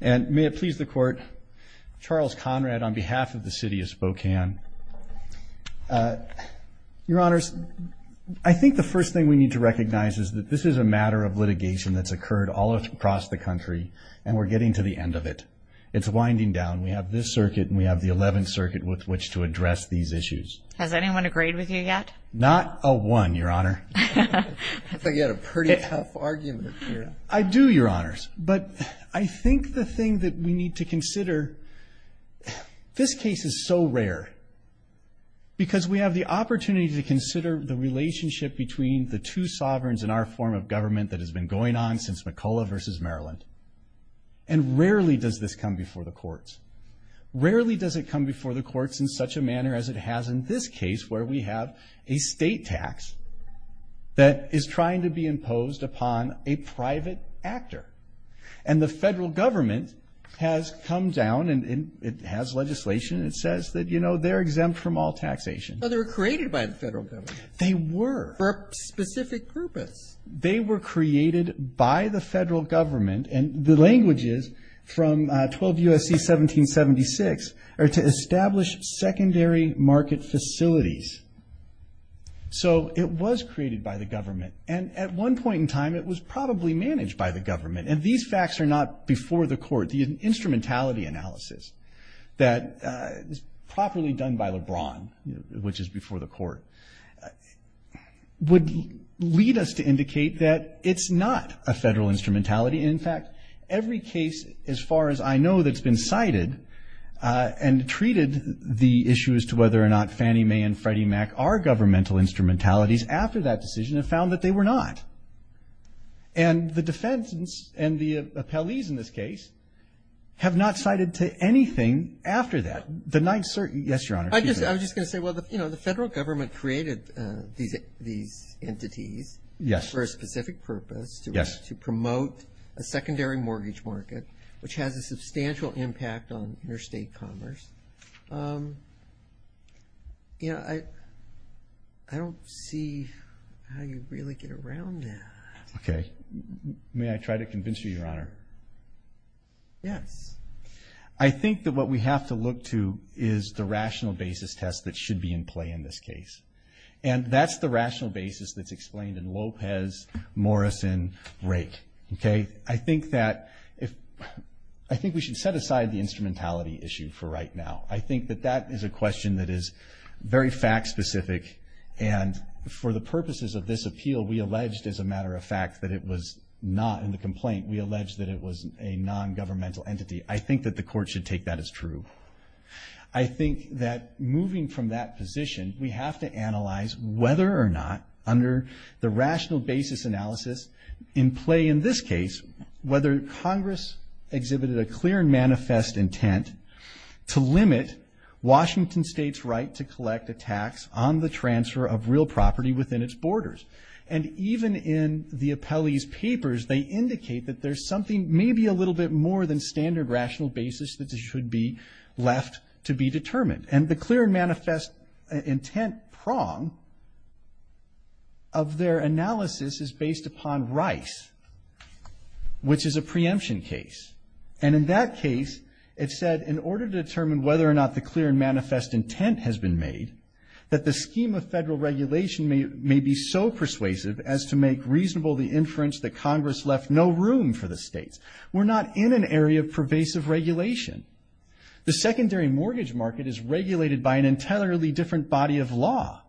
And may it please the court, Charles Conrad on behalf of the city of Spokane. Your Honors, I think the first thing we need to recognize is that this is a matter of litigation that's occurred all across the country, and we're getting to the end of it. It's winding down. We have this circuit and we have the Eleventh Circuit with which to address these issues. Has anyone agreed with you yet? Not a one, Your Honor. I thought you had a pretty tough argument here. I do, Your Honors, but I think the thing that we need to consider, this case is so rare, because we have the opportunity to consider the relationship between the two sovereigns in our form of government that has been going on since McCulloch v. Maryland, and rarely does this come before the courts. Rarely does it come before the courts in such a manner as it has in this case, where we have a state tax that is trying to be imposed upon a private actor. And the federal government has come down, and it has legislation, and it says that, you know, they're exempt from all taxation. But they were created by the federal government. They were. For a specific purpose. They were created by the federal government, and the language is from 12 U.S.C. 1776, or to establish secondary market facilities. So it was created by the government. And at one point in time, it was probably managed by the government. And these facts are not before the court. The instrumentality analysis that is properly done by LeBron, which is before the court, would lead us to indicate that it's not a federal instrumentality. In fact, every case, as far as I know, that's been cited and treated the issue as to whether or not Fannie Mae and Freddie Mac are governmental instrumentalities, after that decision, have found that they were not. And the defense and the appellees in this case have not cited to anything after that. Yes, Your Honor. I was just going to say, well, you know, the federal government created these entities for a specific purpose. Yes. To promote a secondary mortgage market, which has a substantial impact on interstate commerce. You know, I don't see how you really get around that. Okay. May I try to convince you, Your Honor? Yes. I think that what we have to look to is the rational basis test that should be in play in this case. And that's the rational basis that's explained in Lopez, Morrison, Rake. Okay. I think that if we should set aside the instrumentality issue for right now. I think that that is a question that is very fact specific. And for the purposes of this appeal, we alleged, as a matter of fact, that it was not in the complaint. We alleged that it was a nongovernmental entity. I think that the court should take that as true. I think that moving from that position, we have to analyze whether or not, under the rational basis analysis in play in this case, whether Congress exhibited a clear and manifest intent to limit Washington State's right to collect a tax on the transfer of real property within its borders. They indicate that there's something, maybe a little bit more than standard rational basis, that should be left to be determined. And the clear and manifest intent prong of their analysis is based upon Rice, which is a preemption case. And in that case, it said, in order to determine whether or not the clear and manifest intent has been made, that the scheme of federal regulation may be so persuasive as to make reasonable the inference that Congress left no room for the states. We're not in an area of pervasive regulation. The secondary mortgage market is regulated by an entirely different body of law.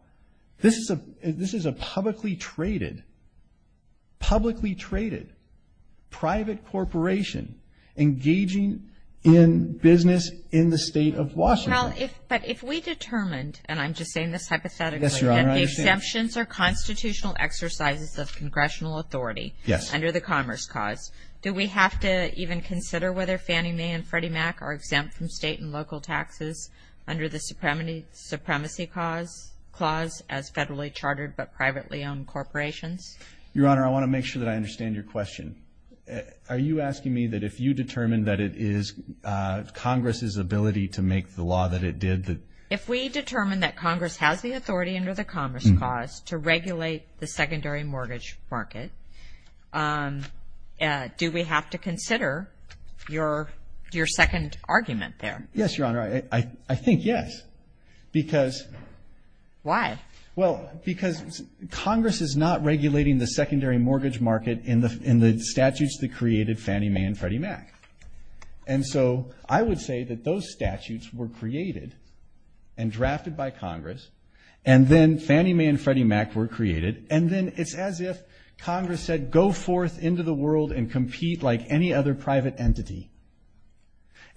This is a publicly traded private corporation engaging in business in the state of Washington. But if we determined, and I'm just saying this hypothetically, and the exemptions are constitutional exercises of congressional authority under the Commerce Clause, do we have to even consider whether Fannie Mae and Freddie Mac are exempt from state and local taxes under the Supremacy Clause as federally chartered but privately owned corporations? Your Honor, I want to make sure that I understand your question. Are you asking me that if you determine that it is Congress's ability to make the law that it did? If we determine that Congress has the authority under the Commerce Clause to regulate the secondary mortgage market, do we have to consider your second argument there? Yes, Your Honor. I think yes. Why? Well, because Congress is not regulating the secondary mortgage market in the statutes that created Fannie Mae and Freddie Mac. And so I would say that those statutes were created and drafted by Congress, and then Fannie Mae and Freddie Mac were created, and then it's as if Congress said go forth into the world and compete like any other private entity.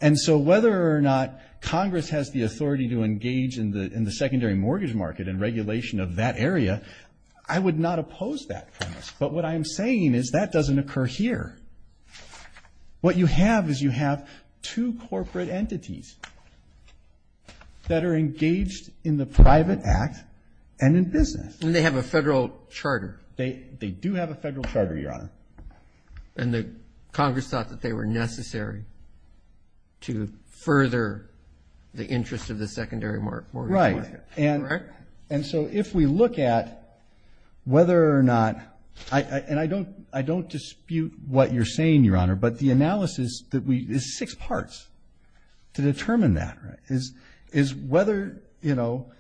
And so whether or not Congress has the authority to engage in the secondary mortgage market and regulation of that area, I would not oppose that premise. But what I am saying is that doesn't occur here. What you have is you have two corporate entities that are engaged in the private act and in business. And they have a federal charter. They do have a federal charter, Your Honor. And Congress thought that they were necessary to further the interest of the secondary mortgage market. And so if we look at whether or not, and I don't dispute what you're saying, Your Honor, but the analysis is six parts to determine that, is whether, you know,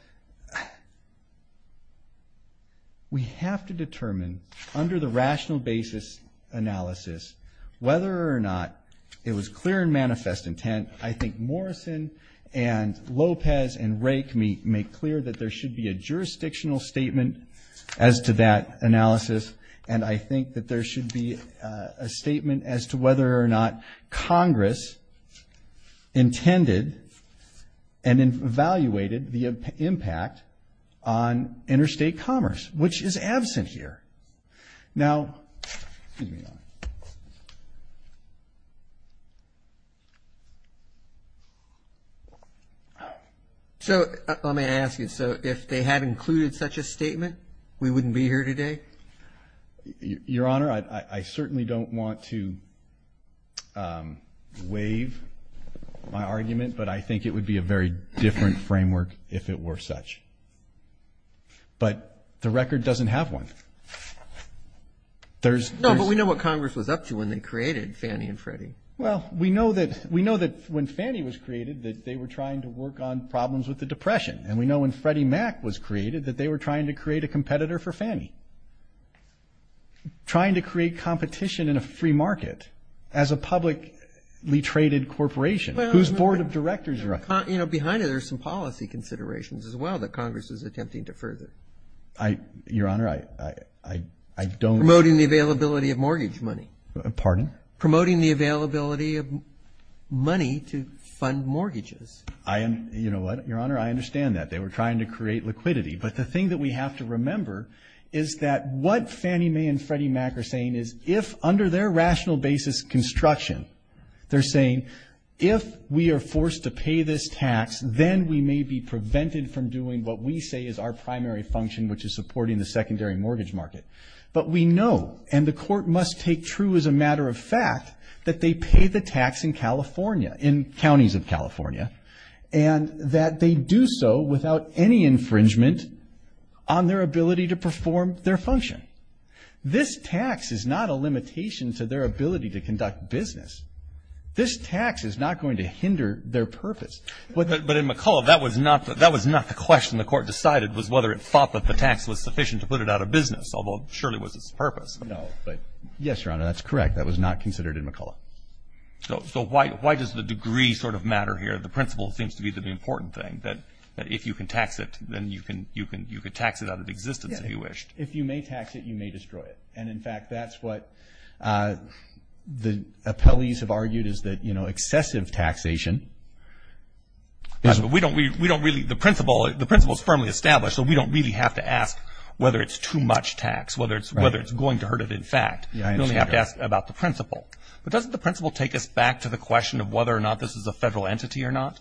we have to determine under the rational basis analysis whether or not it was clear and manifest intent. I think Morrison and Lopez and Rake make clear that there should be a jurisdictional statement as to that analysis. And I think that there should be a statement as to whether or not Congress intended and evaluated the impact on interstate commerce, which is absent here. Now, excuse me, Your Honor. So let me ask you, so if they had included such a statement, we wouldn't be here today? Your Honor, I certainly don't want to waive my argument, but I think it would be a very different framework if it were such. But the record doesn't have one. No, but we know what Congress was up to when they created Fannie and Freddie. Well, we know that when Fannie was created that they were trying to work on problems with the Depression. And we know when Freddie Mac was created that they were trying to create a competitor for Fannie, trying to create competition in a free market as a publicly traded corporation. Well, you know, behind it there's some policy considerations as well that Congress is attempting to further. I, Your Honor, I don't. Promoting the availability of mortgage money. Pardon? Promoting the availability of money to fund mortgages. I am, you know what, Your Honor, I understand that. They were trying to create liquidity. But the thing that we have to remember is that what Fannie Mae and Freddie Mac are saying is if under their rational basis construction, they're saying if we are forced to pay this tax, then we may be prevented from doing what we say is our primary function, which is supporting the secondary mortgage market. But we know, and the Court must take true as a matter of fact, that they pay the tax in California, in counties of California, and that they do so without any infringement on their ability to perform their function. This tax is not a limitation to their ability to conduct business. This tax is not going to hinder their purpose. But in McCullough, that was not the question the Court decided, was whether it thought that the tax was sufficient to put it out of business, although it surely was its purpose. No, but yes, Your Honor, that's correct. That was not considered in McCullough. So why does the degree sort of matter here? The principle seems to be the important thing, that if you can tax it, then you can tax it out of existence if you wished. If you may tax it, you may destroy it. And, in fact, that's what the appellees have argued is that, you know, excessive taxation. We don't really – the principle is firmly established, so we don't really have to ask whether it's too much tax, whether it's going to hurt it in fact. We only have to ask about the principle. But doesn't the principle take us back to the question of whether or not this is a federal entity or not?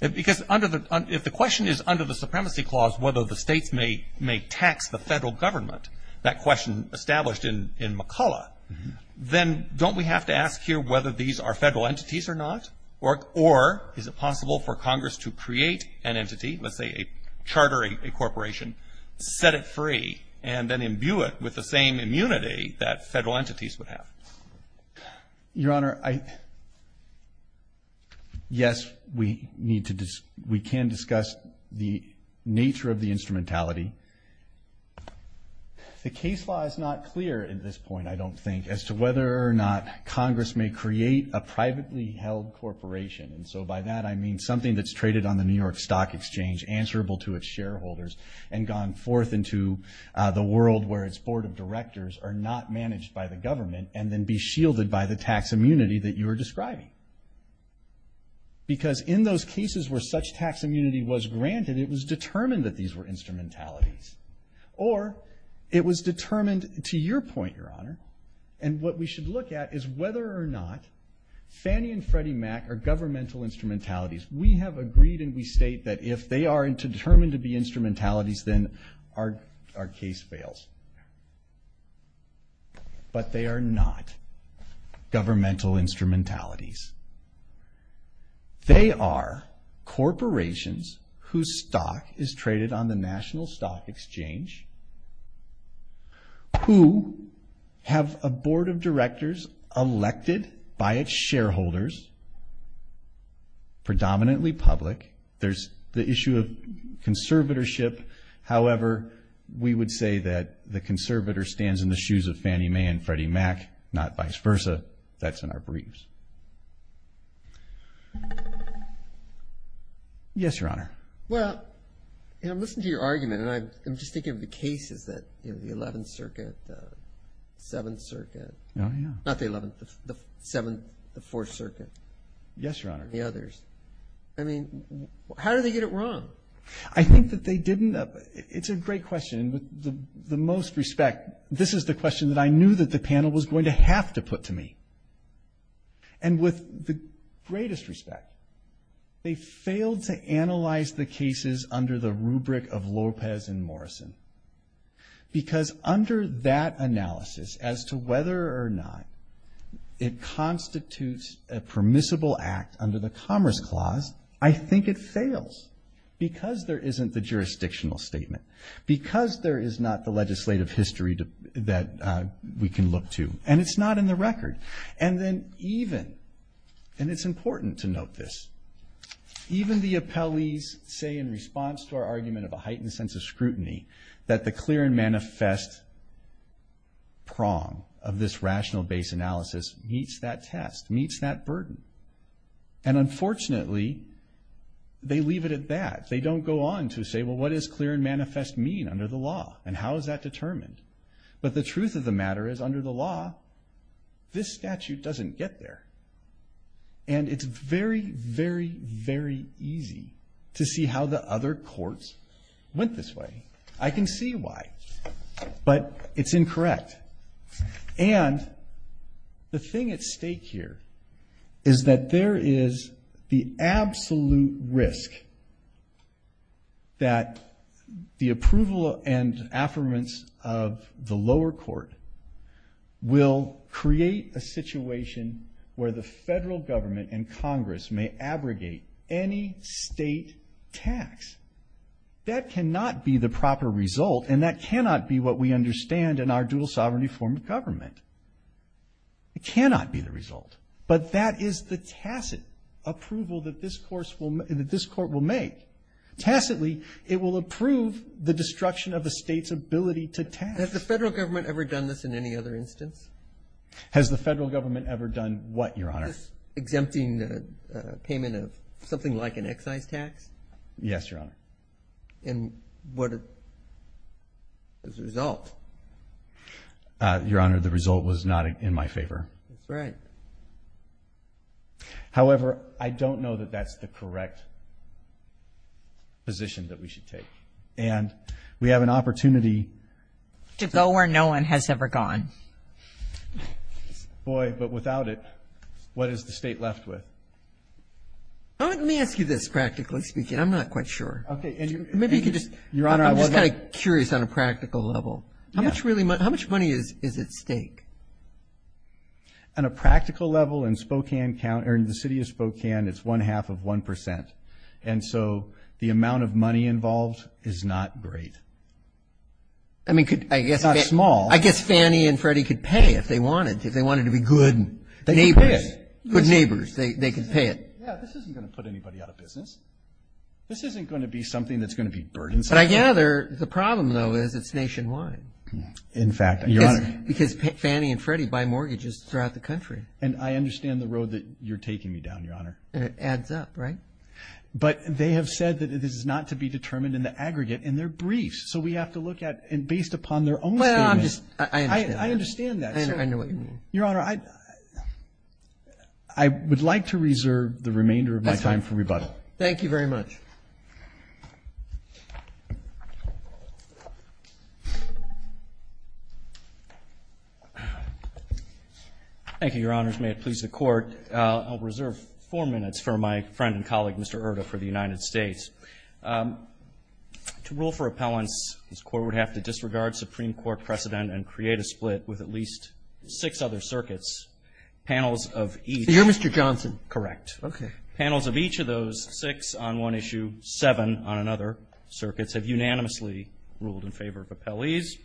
Because if the question is under the supremacy clause, whether the states may tax the federal government, that question established in McCullough, then don't we have to ask here whether these are federal entities or not? Or is it possible for Congress to create an entity, let's say a charter, a corporation, set it free and then imbue it with the same immunity that federal entities would have? Your Honor, yes, we can discuss the nature of the instrumentality. The case law is not clear at this point, I don't think, as to whether or not Congress may create a privately held corporation. And so by that I mean something that's traded on the New York Stock Exchange, answerable to its shareholders, and gone forth into the world where its board of directors are not managed by the government and then be shielded by the tax immunity that you are describing. Because in those cases where such tax immunity was granted, it was determined that these were instrumentalities. Or it was determined, to your point, Your Honor, and what we should look at is whether or not Fannie and Freddie Mac are governmental instrumentalities. We have agreed and we state that if they are determined to be instrumentalities, then our case fails. But they are not governmental instrumentalities. They are corporations whose stock is traded on the National Stock Exchange who have a board of directors elected by its shareholders, predominantly public. There's the issue of conservatorship. However, we would say that the conservator stands in the shoes of Fannie Mae and Freddie Mac, not vice versa. That's in our briefs. Yes, Your Honor. Well, you know, I'm listening to your argument and I'm just thinking of the cases that, you know, the 11th Circuit, the 7th Circuit. Oh, yeah. Not the 11th, the 7th, the 4th Circuit. The others. I mean, how did they get it wrong? I think that they didn't. It's a great question. And with the most respect, this is the question that I knew that the panel was going to have to put to me. And with the greatest respect, they failed to analyze the cases under the rubric of Lopez and Morrison because under that analysis as to whether or not it constitutes a permissible act under the Commerce Clause, I think it fails because there isn't the jurisdictional statement, because there is not the legislative history that we can look to, and it's not in the record. And then even, and it's important to note this, even the appellees say in response to our argument of a heightened sense of scrutiny that the clear and manifest prong of this rational base analysis meets that test, meets that burden. And unfortunately, they leave it at that. They don't go on to say, well, what does clear and manifest mean under the law? And how is that determined? But the truth of the matter is under the law, this statute doesn't get there. And it's very, very, very easy to see how the other courts went this way. I can see why. But it's incorrect. And the thing at stake here is that there is the absolute risk that the approval and affirmance of the lower court will create a situation where the federal government and Congress may abrogate any state tax. That cannot be the proper result, and that cannot be what we understand in our dual sovereignty form of government. It cannot be the result. But that is the tacit approval that this court will make. Tacitly, it will approve the destruction of a state's ability to tax. Has the federal government ever done this in any other instance? Has the federal government ever done what, Your Honor? This exempting payment of something like an excise tax? Yes, Your Honor. And what is the result? Your Honor, the result was not in my favor. That's right. However, I don't know that that's the correct position that we should take. And we have an opportunity. To go where no one has ever gone. Boy, but without it, what is the state left with? Let me ask you this, practically speaking. I'm not quite sure. Maybe you could just. Your Honor. I'm just kind of curious on a practical level. How much money is at stake? On a practical level, in the city of Spokane, it's one-half of 1%. And so the amount of money involved is not great. I mean, I guess. It's not small. I guess Fannie and Freddie could pay if they wanted. If they wanted to be good neighbors. They could pay it. Yeah, this isn't going to put anybody out of business. This isn't going to be something that's going to be burdensome. But I gather the problem, though, is it's nationwide. In fact, Your Honor. Because Fannie and Freddie buy mortgages throughout the country. And I understand the road that you're taking me down, Your Honor. And it adds up, right? But they have said that it is not to be determined in the aggregate, and they're briefs. So we have to look at, and based upon their own statement. Well, I'm just. I understand that. I understand that. I know what you mean. Your Honor, I would like to reserve the remainder of my time for rebuttal. Thank you very much. Thank you, Your Honors. May it please the Court. I'll reserve four minutes for my friend and colleague, Mr. Erta, for the United States. To rule for appellants, this Court would have to disregard Supreme Court precedent and create a split with at least six other circuits. Panels of each. You're Mr. Johnson. Correct. Okay. Panels of each of those six on one issue, seven on another circuits, have unanimously ruled in favor of appellees.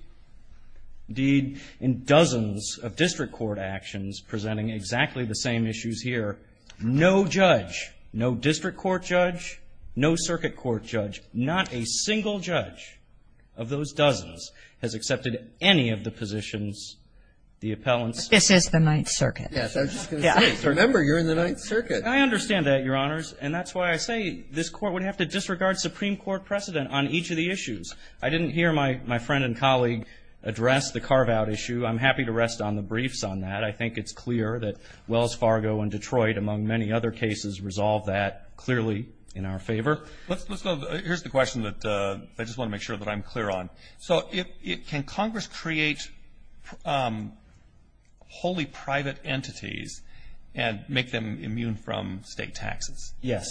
Indeed, in dozens of district court actions presenting exactly the same issues here, no judge, no district court judge, no circuit court judge, not a single judge of those dozens has accepted any of the positions the appellants This is the Ninth Circuit. Yes. I was just going to say. Remember, you're in the Ninth Circuit. I understand that, Your Honors. And that's why I say this Court would have to disregard Supreme Court precedent on each of the issues. I didn't hear my friend and colleague address the carve-out issue. I'm happy to rest on the briefs on that. I think it's clear that Wells Fargo and Detroit, among many other cases, resolve that clearly in our favor. Here's the question that I just want to make sure that I'm clear on. So can Congress create wholly private entities and make them immune from state taxes? Yes.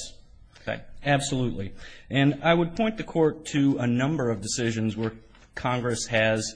Absolutely. And I would point the Court to a number of decisions where Congress has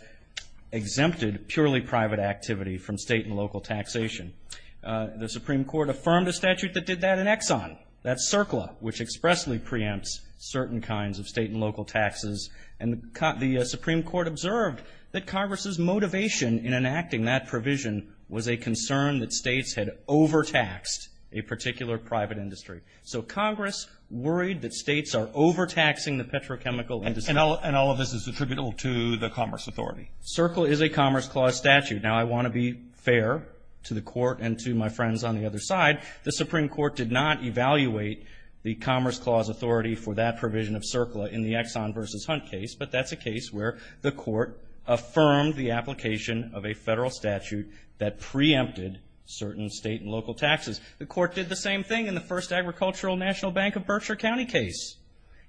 exempted purely private activity from state and local taxation. The Supreme Court affirmed a statute that did that in Exxon, that's CERCLA, which expressly preempts certain kinds of state and local taxes. And the Supreme Court observed that Congress's motivation in enacting that provision was a concern that states had overtaxed a particular private industry. So Congress worried that states are overtaxing the petrochemical industry. And all of this is attributable to the Commerce Authority. CERCLA is a Commerce Clause statute. Now, I want to be fair to the Court and to my friends on the other side. The Supreme Court did not evaluate the Commerce Clause authority for that provision of CERCLA in the Exxon v. Hunt case, but that's a case where the Court affirmed the application of a federal statute that preempted certain state and local taxes. The Court did the same thing in the first Agricultural National Bank of Berkshire County case.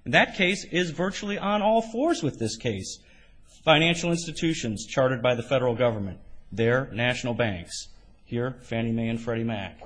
And that case is virtually on all fours with this case. Financial institutions chartered by the federal government, their national banks, here Fannie Mae and Freddie Mac.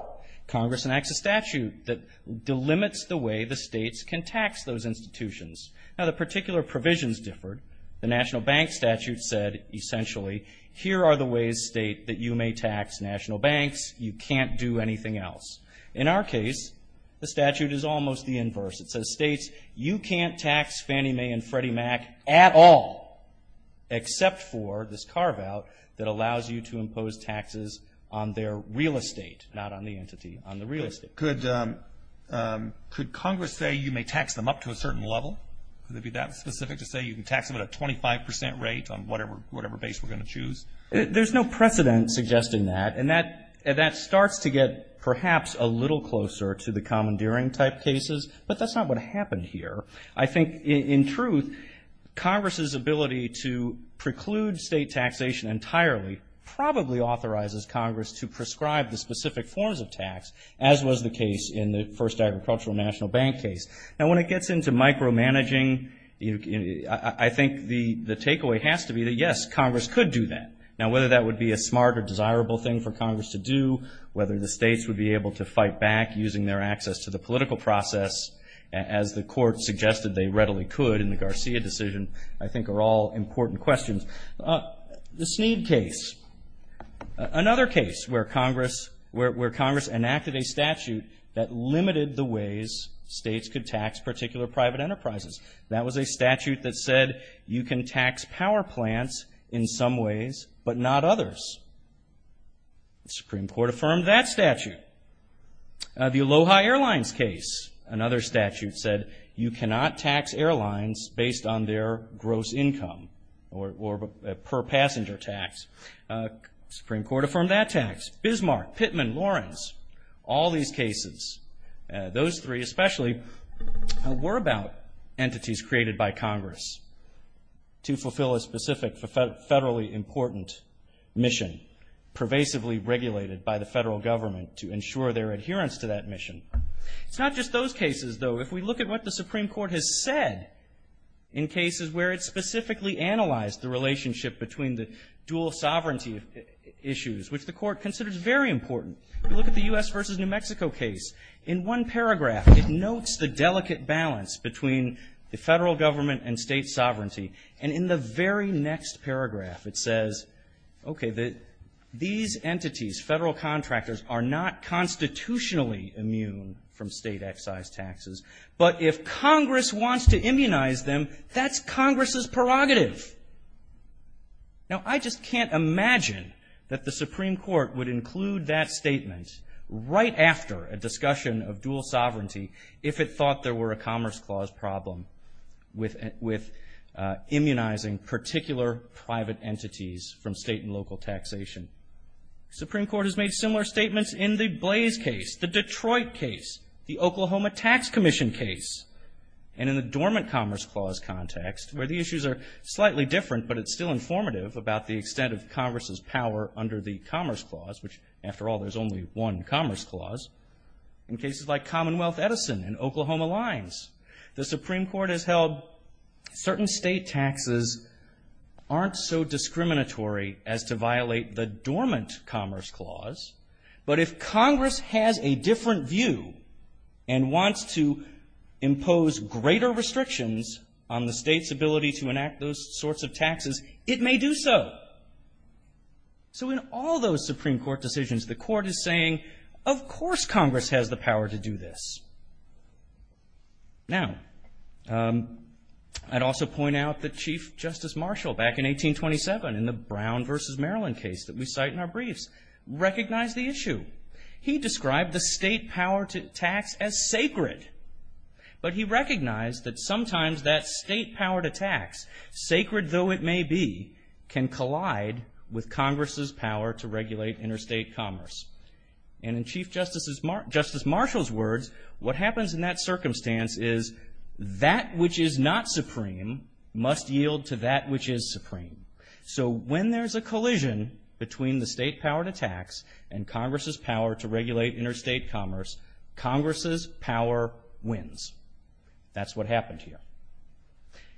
Congress enacts a statute that delimits the way the states can tax those institutions. Now, the particular provisions differed. The national bank statute said, essentially, here are the ways, state, that you may tax national banks. You can't do anything else. In our case, the statute is almost the inverse. It says, states, you can't tax Fannie Mae and Freddie Mac at all, except for this carve-out that allows you to impose taxes on their real estate, not on the entity, on the real estate. Could Congress say you may tax them up to a certain level? Could it be that specific to say you can tax them at a 25% rate on whatever base we're going to choose? There's no precedent suggesting that. And that starts to get, perhaps, a little closer to the commandeering-type cases, but that's not what happened here. I think, in truth, Congress's ability to preclude state taxation entirely probably authorizes Congress to prescribe the specific forms of tax, as was the case in the first Agricultural National Bank case. Now, when it gets into micromanaging, I think the takeaway has to be that, yes, Congress could do that. Now, whether that would be a smart or desirable thing for Congress to do, whether the states would be able to fight back using their access to the political process, as the Court suggested they readily could in the Garcia decision, I think are all important questions. The Sneed case, another case where Congress enacted a statute that limited the ways states could tax particular private enterprises. That was a statute that said you can tax power plants in some ways but not others. The Supreme Court affirmed that statute. The Aloha Airlines case, another statute said you cannot tax airlines based on their gross income or per-passenger tax. The Supreme Court affirmed that tax. Bismarck, Pittman, Lawrence, all these cases, those three especially, were about entities created by Congress to fulfill a specific federally important mission, pervasively regulated by the federal government to ensure their adherence to that mission. It's not just those cases, though. If we look at what the Supreme Court has said in cases where it specifically analyzed the relationship between the dual sovereignty issues, which the Court considers very important, look at the U.S. versus New Mexico case. In one paragraph, it notes the delicate balance between the federal government and state sovereignty. And in the very next paragraph, it says, okay, these entities, federal contractors, are not constitutionally immune from state excise taxes, but if Congress wants to immunize them, that's Congress's prerogative. Now, I just can't imagine that the Supreme Court would include that statement right after a discussion of dual sovereignty if it thought there were a Commerce Clause problem with immunizing particular private entities from state and local taxation. The Supreme Court has made similar statements in the Blaze case, the Detroit case, the Oklahoma Tax Commission case, and in the dormant Commerce Clause context where the issues are slightly different, but it's still informative about the extent of Congress's power under the Commerce Clause, which, after all, there's only one Commerce Clause, in cases like Commonwealth Edison and Oklahoma Lines. The Supreme Court has held certain state taxes aren't so discriminatory as to violate the dormant Commerce Clause, but if Congress has a different view and wants to impose greater restrictions on the state's ability to enact those sorts of taxes, it may do so. So in all those Supreme Court decisions, the Court is saying, of course Congress has the power to do this. Now, I'd also point out that Chief Justice Marshall, back in 1827 in the Brown v. Maryland case that we cite in our briefs, recognized the issue. He described the state power to tax as sacred, but he recognized that sometimes that state power to tax, sacred though it may be, can collide with Congress's power to regulate interstate commerce. And in Chief Justice Marshall's words, what happens in that circumstance is, that which is not supreme must yield to that which is supreme. So when there's a collision between the state power to tax and Congress's power to regulate interstate commerce, Congress's power wins. That's what happened here.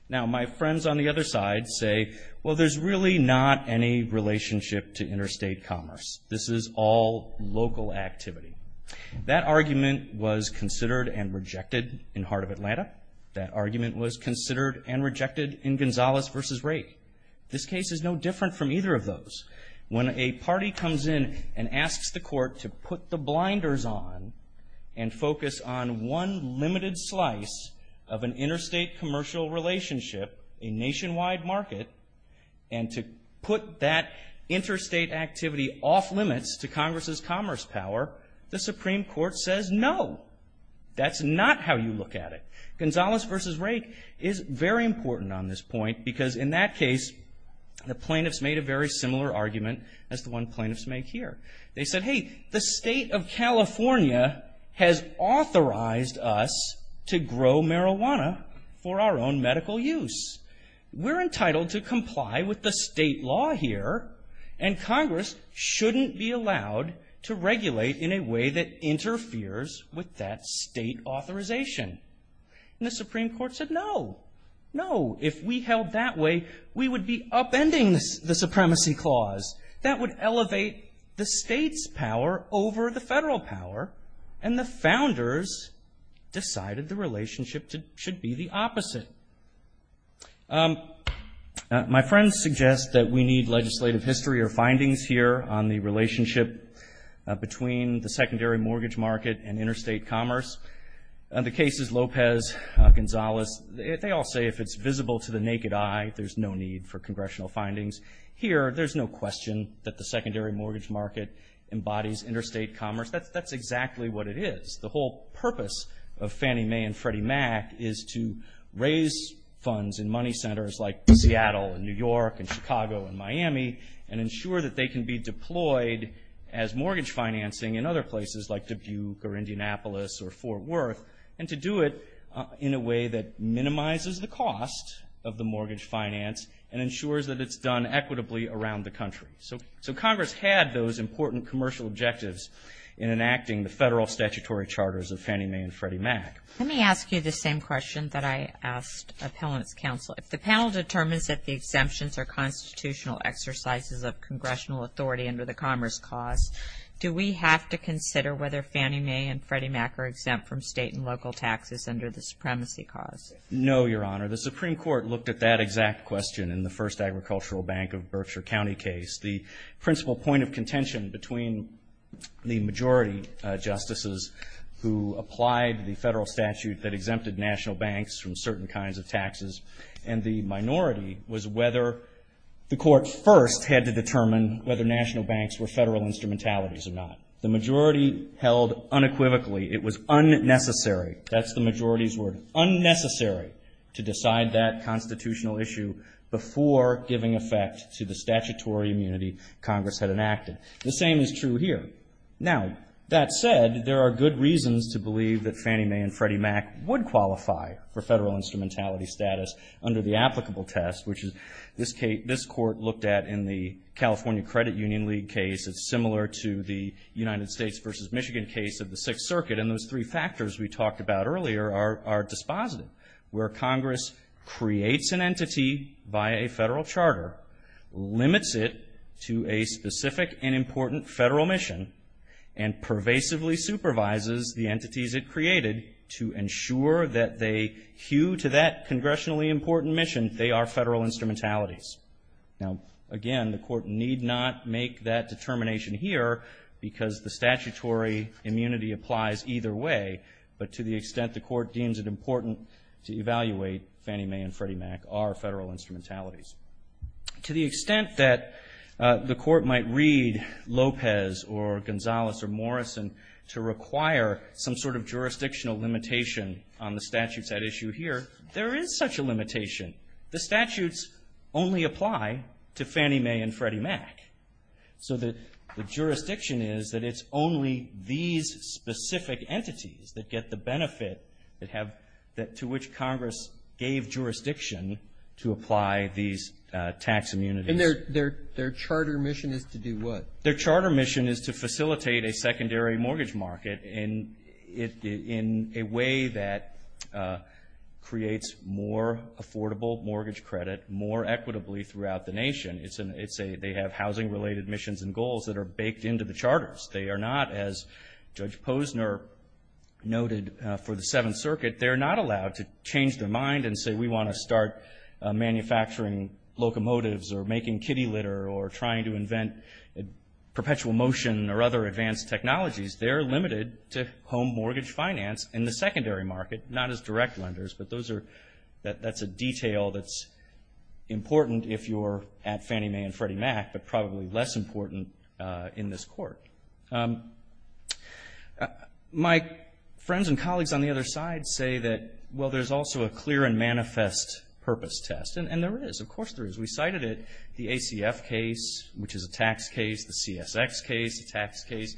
Now, my friends on the other side say, well, there's really not any relationship to interstate commerce. This is all local activity. That argument was considered and rejected in Heart of Atlanta. That argument was considered and rejected in Gonzales v. Rake. When a party comes in and asks the court to put the blinders on and focus on one limited slice of an interstate commercial relationship, a nationwide market, and to put that interstate activity off limits to Congress's commerce power, the Supreme Court says no. That's not how you look at it. Gonzales v. Rake is very important on this point, because in that case, the plaintiffs made a very similar argument as the one plaintiffs make here. They said, hey, the state of California has authorized us to grow marijuana for our own medical use. We're entitled to comply with the state law here, and Congress shouldn't be allowed to regulate in a way that interferes with that state authorization. And the Supreme Court said no, no. If we held that way, we would be upending the supremacy clause. That would elevate the state's power over the federal power, and the founders decided the relationship should be the opposite. My friends suggest that we need legislative history or findings here on the relationship between the secondary mortgage market and interstate commerce. The cases Lopez, Gonzales, they all say if it's visible to the naked eye, there's no need for congressional findings. Here, there's no question that the secondary mortgage market embodies interstate commerce. That's exactly what it is. The whole purpose of Fannie Mae and Freddie Mac is to raise funds in money centers like Seattle and New York and Chicago and Miami and ensure that they can be deployed as mortgage financing in other places like Dubuque or Indianapolis or Fort Worth, and to do it in a way that minimizes the cost of the mortgage finance and ensures that it's done equitably around the country. So Congress had those important commercial objectives in enacting the federal statutory charters of Fannie Mae and Freddie Mac. Let me ask you the same question that I asked appellants counsel. If the panel determines that the exemptions are constitutional exercises of congressional authority under the commerce clause, do we have to consider whether Fannie Mae and Freddie Mac are exempt from state and local taxes under the supremacy clause? No, Your Honor. The Supreme Court looked at that exact question in the first Agricultural Bank of Berkshire County case. The principal point of contention between the majority justices who applied the federal statute that exempted national banks from certain kinds of taxes and the minority was whether the court first had to determine whether national banks were federal instrumentalities or not. The majority held unequivocally it was unnecessary. That's the majority's word. Unnecessary to decide that constitutional issue before giving effect to the statutory immunity Congress had enacted. The same is true here. Now, that said, there are good reasons to believe that Fannie Mae and Freddie Mac would qualify for federal instrumentality status under the applicable test, which this court looked at in the California Credit Union League case. It's similar to the United States versus Michigan case of the Sixth Circuit. And those three factors we talked about earlier are dispositive, where Congress creates an entity by a federal charter, limits it to a specific and important federal mission, and pervasively supervises the entities it created to ensure that they hew to that congressionally important mission they are federal instrumentalities. Now, again, the court need not make that determination here because the statutory immunity applies either way, but to the extent the court deems it important to evaluate Fannie Mae and Freddie Mac are federal instrumentalities. To the extent that the court might read Lopez or Gonzalez or Morrison to require some sort of jurisdictional limitation on the statutes at issue here, there is such a limitation. The statutes only apply to Fannie Mae and Freddie Mac. So the jurisdiction is that it's only these specific entities that get the benefit to which Congress gave jurisdiction to apply these tax immunities. And their charter mission is to do what? In a way that creates more affordable mortgage credit more equitably throughout the nation. They have housing-related missions and goals that are baked into the charters. They are not, as Judge Posner noted for the Seventh Circuit, they're not allowed to change their mind and say we want to start manufacturing locomotives or making kitty litter or trying to invent perpetual motion or other advanced technologies. They're limited to home mortgage finance in the secondary market, not as direct lenders. But that's a detail that's important if you're at Fannie Mae and Freddie Mac, but probably less important in this court. My friends and colleagues on the other side say that, well, there's also a clear and manifest purpose test. And there is. Of course there is. We cited it, the ACF case, which is a tax case, the CSX case, a tax case.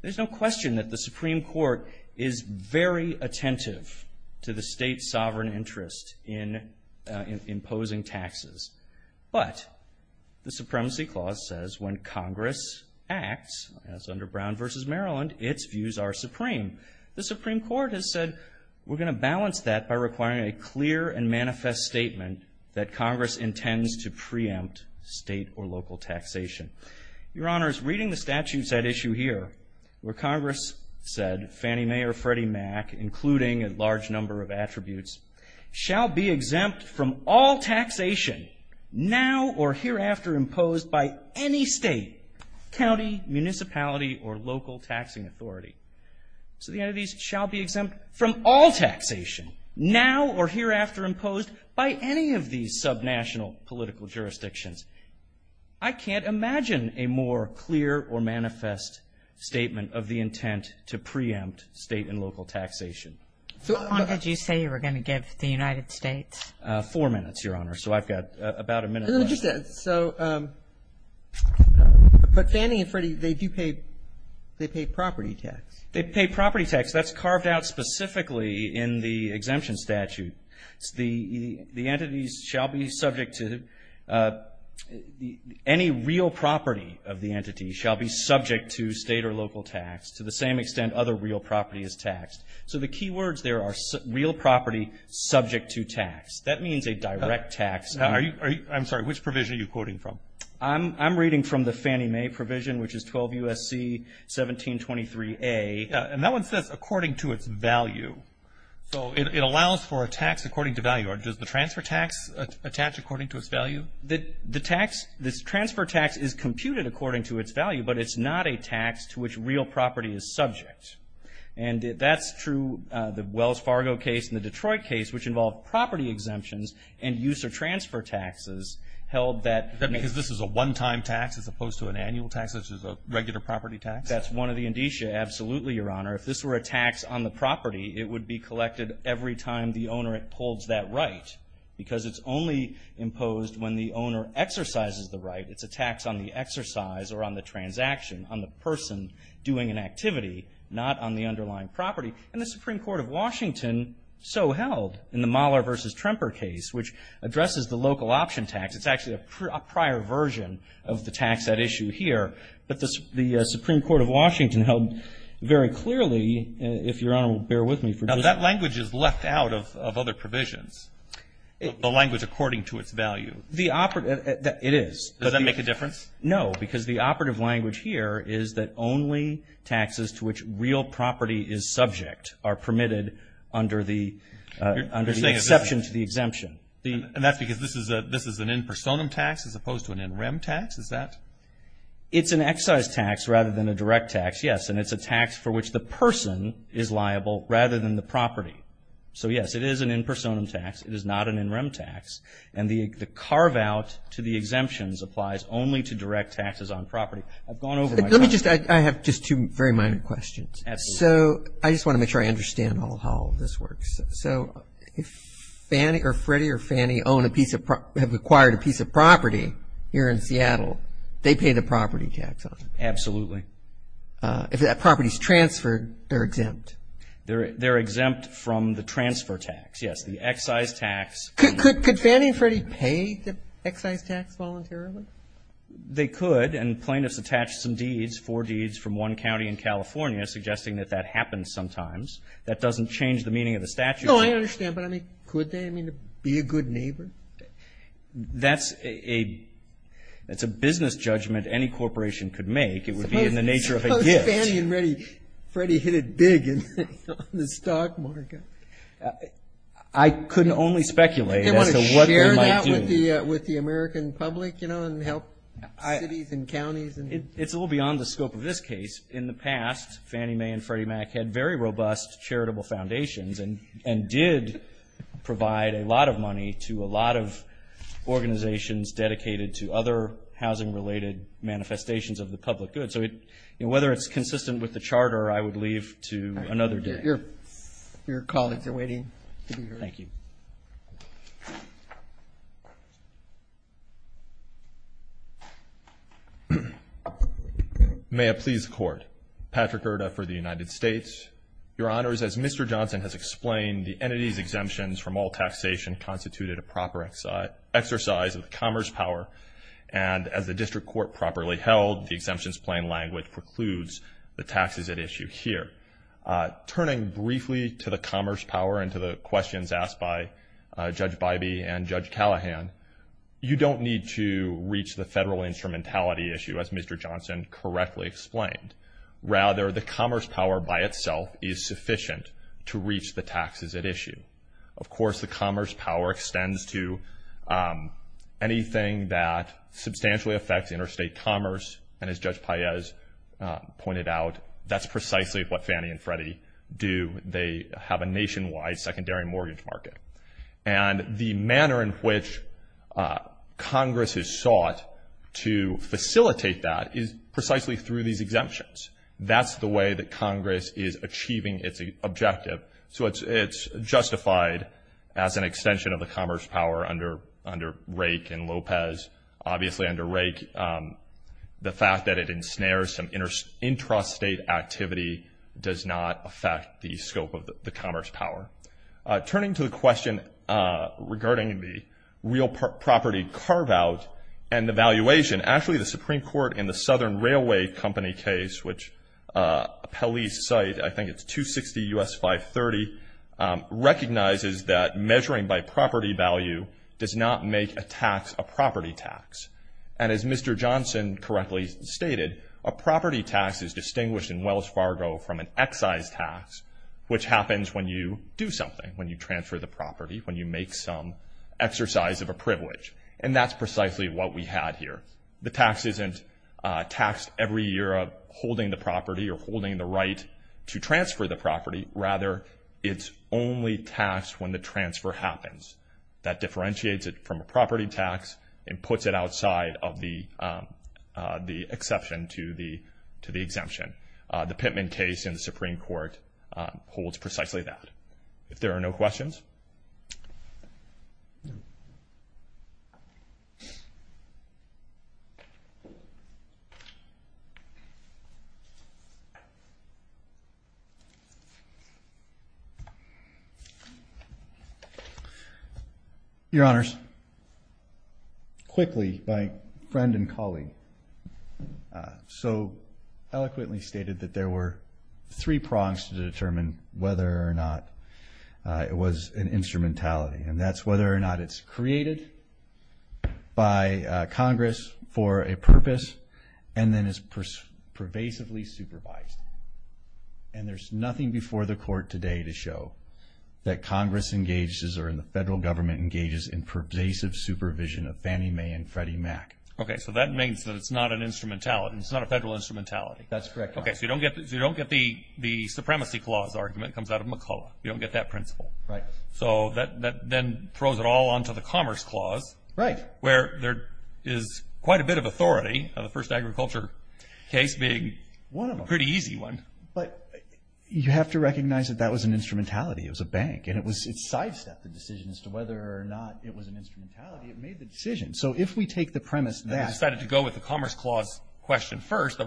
There's no question that the Supreme Court is very attentive to the state's sovereign interest in imposing taxes. But the Supremacy Clause says when Congress acts, as under Brown v. Maryland, its views are supreme. The Supreme Court has said we're going to balance that by requiring a clear and manifest statement that Congress intends to preempt state or local taxation. Your Honors, reading the statutes at issue here, where Congress said Fannie Mae or Freddie Mac, including a large number of attributes, shall be exempt from all taxation now or hereafter imposed by any state, county, municipality, or local taxing authority. So the entities shall be exempt from all taxation now or hereafter imposed by any of these subnational political jurisdictions. I can't imagine a more clear or manifest statement of the intent to preempt state and local taxation. How long did you say you were going to give the United States? Four minutes, Your Honor. So I've got about a minute left. I understand. So but Fannie and Freddie, they do pay property tax. They pay property tax. That's carved out specifically in the exemption statute. The entities shall be subject to any real property of the entity shall be subject to state or local tax to the same extent other real property is taxed. So the key words there are real property subject to tax. That means a direct tax. I'm sorry. Which provision are you quoting from? I'm reading from the Fannie Mae provision, which is 12 U.S.C. 1723A. And that one says according to its value. So it allows for a tax according to value. Does the transfer tax attach according to its value? The transfer tax is computed according to its value, but it's not a tax to which real property is subject. And that's true. The Wells Fargo case and the Detroit case, which involved property exemptions and use or transfer taxes, held that. Because this is a one-time tax as opposed to an annual tax, which is a regular property tax? That's one of the indicia. Absolutely, Your Honor. If this were a tax on the property, it would be collected every time the owner holds that right because it's only imposed when the property, and the Supreme Court of Washington so held in the Mahler v. Tremper case, which addresses the local option tax. It's actually a prior version of the tax at issue here. But the Supreme Court of Washington held very clearly, if Your Honor will bear with me. Now, that language is left out of other provisions, the language according to its value. It is. Does that make a difference? No, because the operative language here is that only taxes to which real property is subject are permitted under the exception to the exemption. And that's because this is an in personam tax as opposed to an in rem tax? Is that? It's an excise tax rather than a direct tax, yes. And it's a tax for which the person is liable rather than the property. So, yes, it is an in personam tax. It is not an in rem tax. And the carve out to the exemptions applies only to direct taxes on property. I've gone over my time. Let me just, I have just two very minor questions. Absolutely. So, I just want to make sure I understand how this works. So, if Fannie or Freddie or Fannie own a piece of, have acquired a piece of property here in Seattle, they pay the property tax on it? Absolutely. If that property is transferred, they're exempt? They're exempt from the transfer tax, yes, the excise tax. Could Fannie and Freddie pay the excise tax voluntarily? They could. And plaintiffs attach some deeds, four deeds from one county in California, suggesting that that happens sometimes. That doesn't change the meaning of the statute. No, I understand. But, I mean, could they, I mean, be a good neighbor? That's a business judgment any corporation could make. It would be in the nature of a gift. Suppose Fannie and Freddie hit it big in the stock market. I couldn't only speculate as to what they might do. Would they want to share that with the American public, you know, and help cities and counties? It's a little beyond the scope of this case. In the past, Fannie Mae and Freddie Mac had very robust charitable foundations and did provide a lot of money to a lot of organizations dedicated to other housing-related manifestations of the public good. So, whether it's consistent with the charter, I would leave to another day. Your colleagues are waiting to be heard. Thank you. May it please the Court. Patrick Irda for the United States. Your Honors, as Mr. Johnson has explained, the entity's exemptions from all taxation constituted a proper exercise of the commerce power, and as the district court properly held, the exemptions plain language precludes the taxes at issue here. Turning briefly to the commerce power and to the questions asked by Judge Bybee and Judge Callahan, you don't need to reach the federal instrumentality issue, as Mr. Johnson correctly explained. Rather, the commerce power by itself is sufficient to reach the taxes at issue. Of course, the commerce power extends to anything that substantially affects interstate commerce, and as Judge Paez pointed out, that's precisely what Fannie and Freddie do. They have a nationwide secondary mortgage market. And the manner in which Congress has sought to facilitate that is precisely through these exemptions. That's the way that Congress is achieving its objective, so it's justified as an extension of the commerce power under Rake and Lopez. Obviously under Rake, the fact that it ensnares some intrastate activity does not affect the scope of the commerce power. Turning to the question regarding the real property carve-out and the valuation, actually the Supreme Court in the Southern Railway Company case, which a police site, I think it's 260 U.S. 530, recognizes that measuring by property value does not make a tax a property tax. And as Mr. Johnson correctly stated, a property tax is distinguished in Wells Fargo from an excise tax, which happens when you do something, when you transfer the property, when you make some exercise of a privilege. And that's precisely what we had here. The tax isn't taxed every year of holding the property or holding the right to transfer the property. Rather, it's only taxed when the transfer happens. That differentiates it from a property tax and puts it outside of the exception to the exemption. The Pittman case in the Supreme Court holds precisely that. If there are no questions. Your Honors, quickly, my friend and colleague so eloquently stated that there were three prongs to determine whether or not it was a property tax. And that's whether or not it's created by Congress for a purpose and then is pervasively supervised. And there's nothing before the Court today to show that Congress engages or the federal government engages in pervasive supervision of Fannie Mae and Freddie Mac. Okay, so that means that it's not an instrumentality. It's not a federal instrumentality. That's correct, Your Honor. Okay, so you don't get the supremacy clause argument that comes out of McCullough. You don't get that principle. Right. So that then throws it all onto the Commerce Clause. Right. Where there is quite a bit of authority of the first agriculture case being a pretty easy one. But you have to recognize that that was an instrumentality. It was a bank. And it sidestepped the decision as to whether or not it was an instrumentality. It made the decision. So if we take the premise that. They decided to go with the Commerce Clause question first. Right. So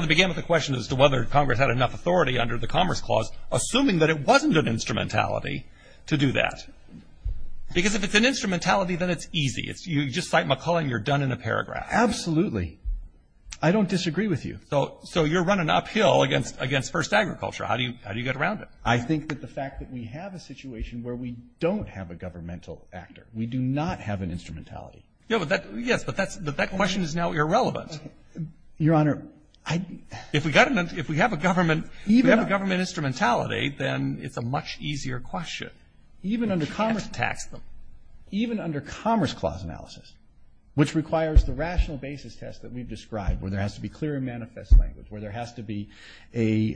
they began with the question as to whether Congress had enough authority under the Commerce Clause, assuming that it wasn't an instrumentality to do that. Because if it's an instrumentality, then it's easy. You just cite McCullough and you're done in a paragraph. Absolutely. I don't disagree with you. So you're running uphill against first agriculture. How do you get around it? I think that the fact that we have a situation where we don't have a governmental actor. We do not have an instrumentality. Yes, but that question is now irrelevant. Your Honor. If we have a government instrumentality, then it's a much easier question. You can't tax them. Even under Commerce Clause analysis, which requires the rational basis test that we've described, where there has to be clear and manifest language. Where there has to be a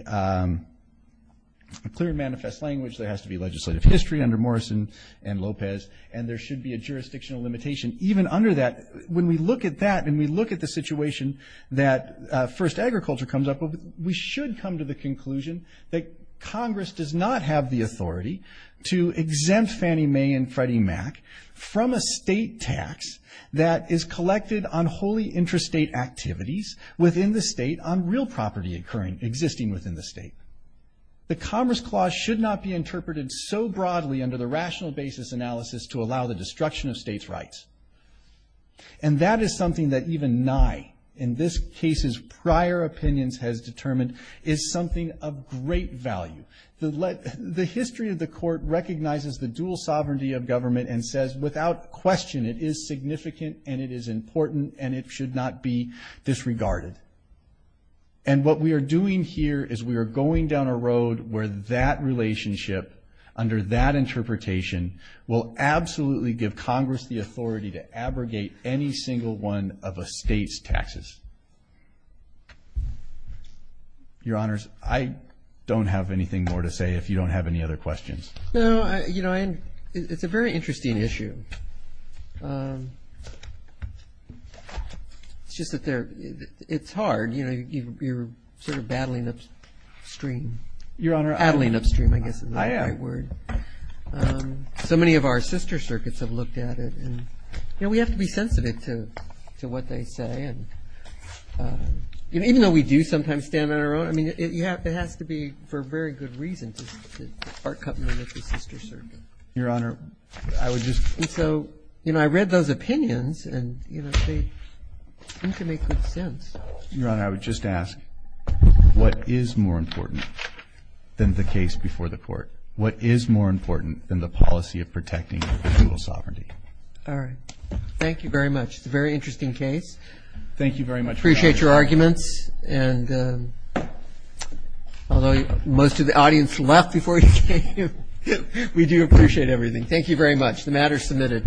clear and manifest language. There has to be legislative history under Morrison and Lopez. And there should be a jurisdictional limitation. Even under that, when we look at that and we look at the situation that first agriculture comes up with, we should come to the conclusion that Congress does not have the authority to exempt Fannie Mae and Freddie Mac from a state tax that is collected on wholly interstate activities within the state on real property existing within the state. The Commerce Clause should not be interpreted so broadly under the rational basis analysis to allow the destruction of states' rights. And that is something that even Nye, in this case's prior opinions, has determined, is something of great value. The history of the Court recognizes the dual sovereignty of government and says, without question, it is significant and it is important and it should not be disregarded. And what we are doing here is we are going down a road where that relationship, under that interpretation, will absolutely give Congress the authority to abrogate any single one of a state's taxes. Your Honors, I don't have anything more to say if you don't have any other questions. No, you know, it's a very interesting issue. It's just that it's hard. You know, you're sort of battling upstream. Your Honor, I am. That's a great word. So many of our sister circuits have looked at it. You know, we have to be sensitive to what they say. And even though we do sometimes stand on our own, I mean, it has to be for a very good reason to part company with the sister circuit. Your Honor, I would just ---- And so, you know, I read those opinions and, you know, they seem to make good sense. Your Honor, I would just ask, what is more important than the case before the court? What is more important than the policy of protecting legal sovereignty? All right. Thank you very much. It's a very interesting case. Thank you very much. Appreciate your arguments. And although most of the audience left before you came, we do appreciate everything. Thank you very much. The matter is submitted.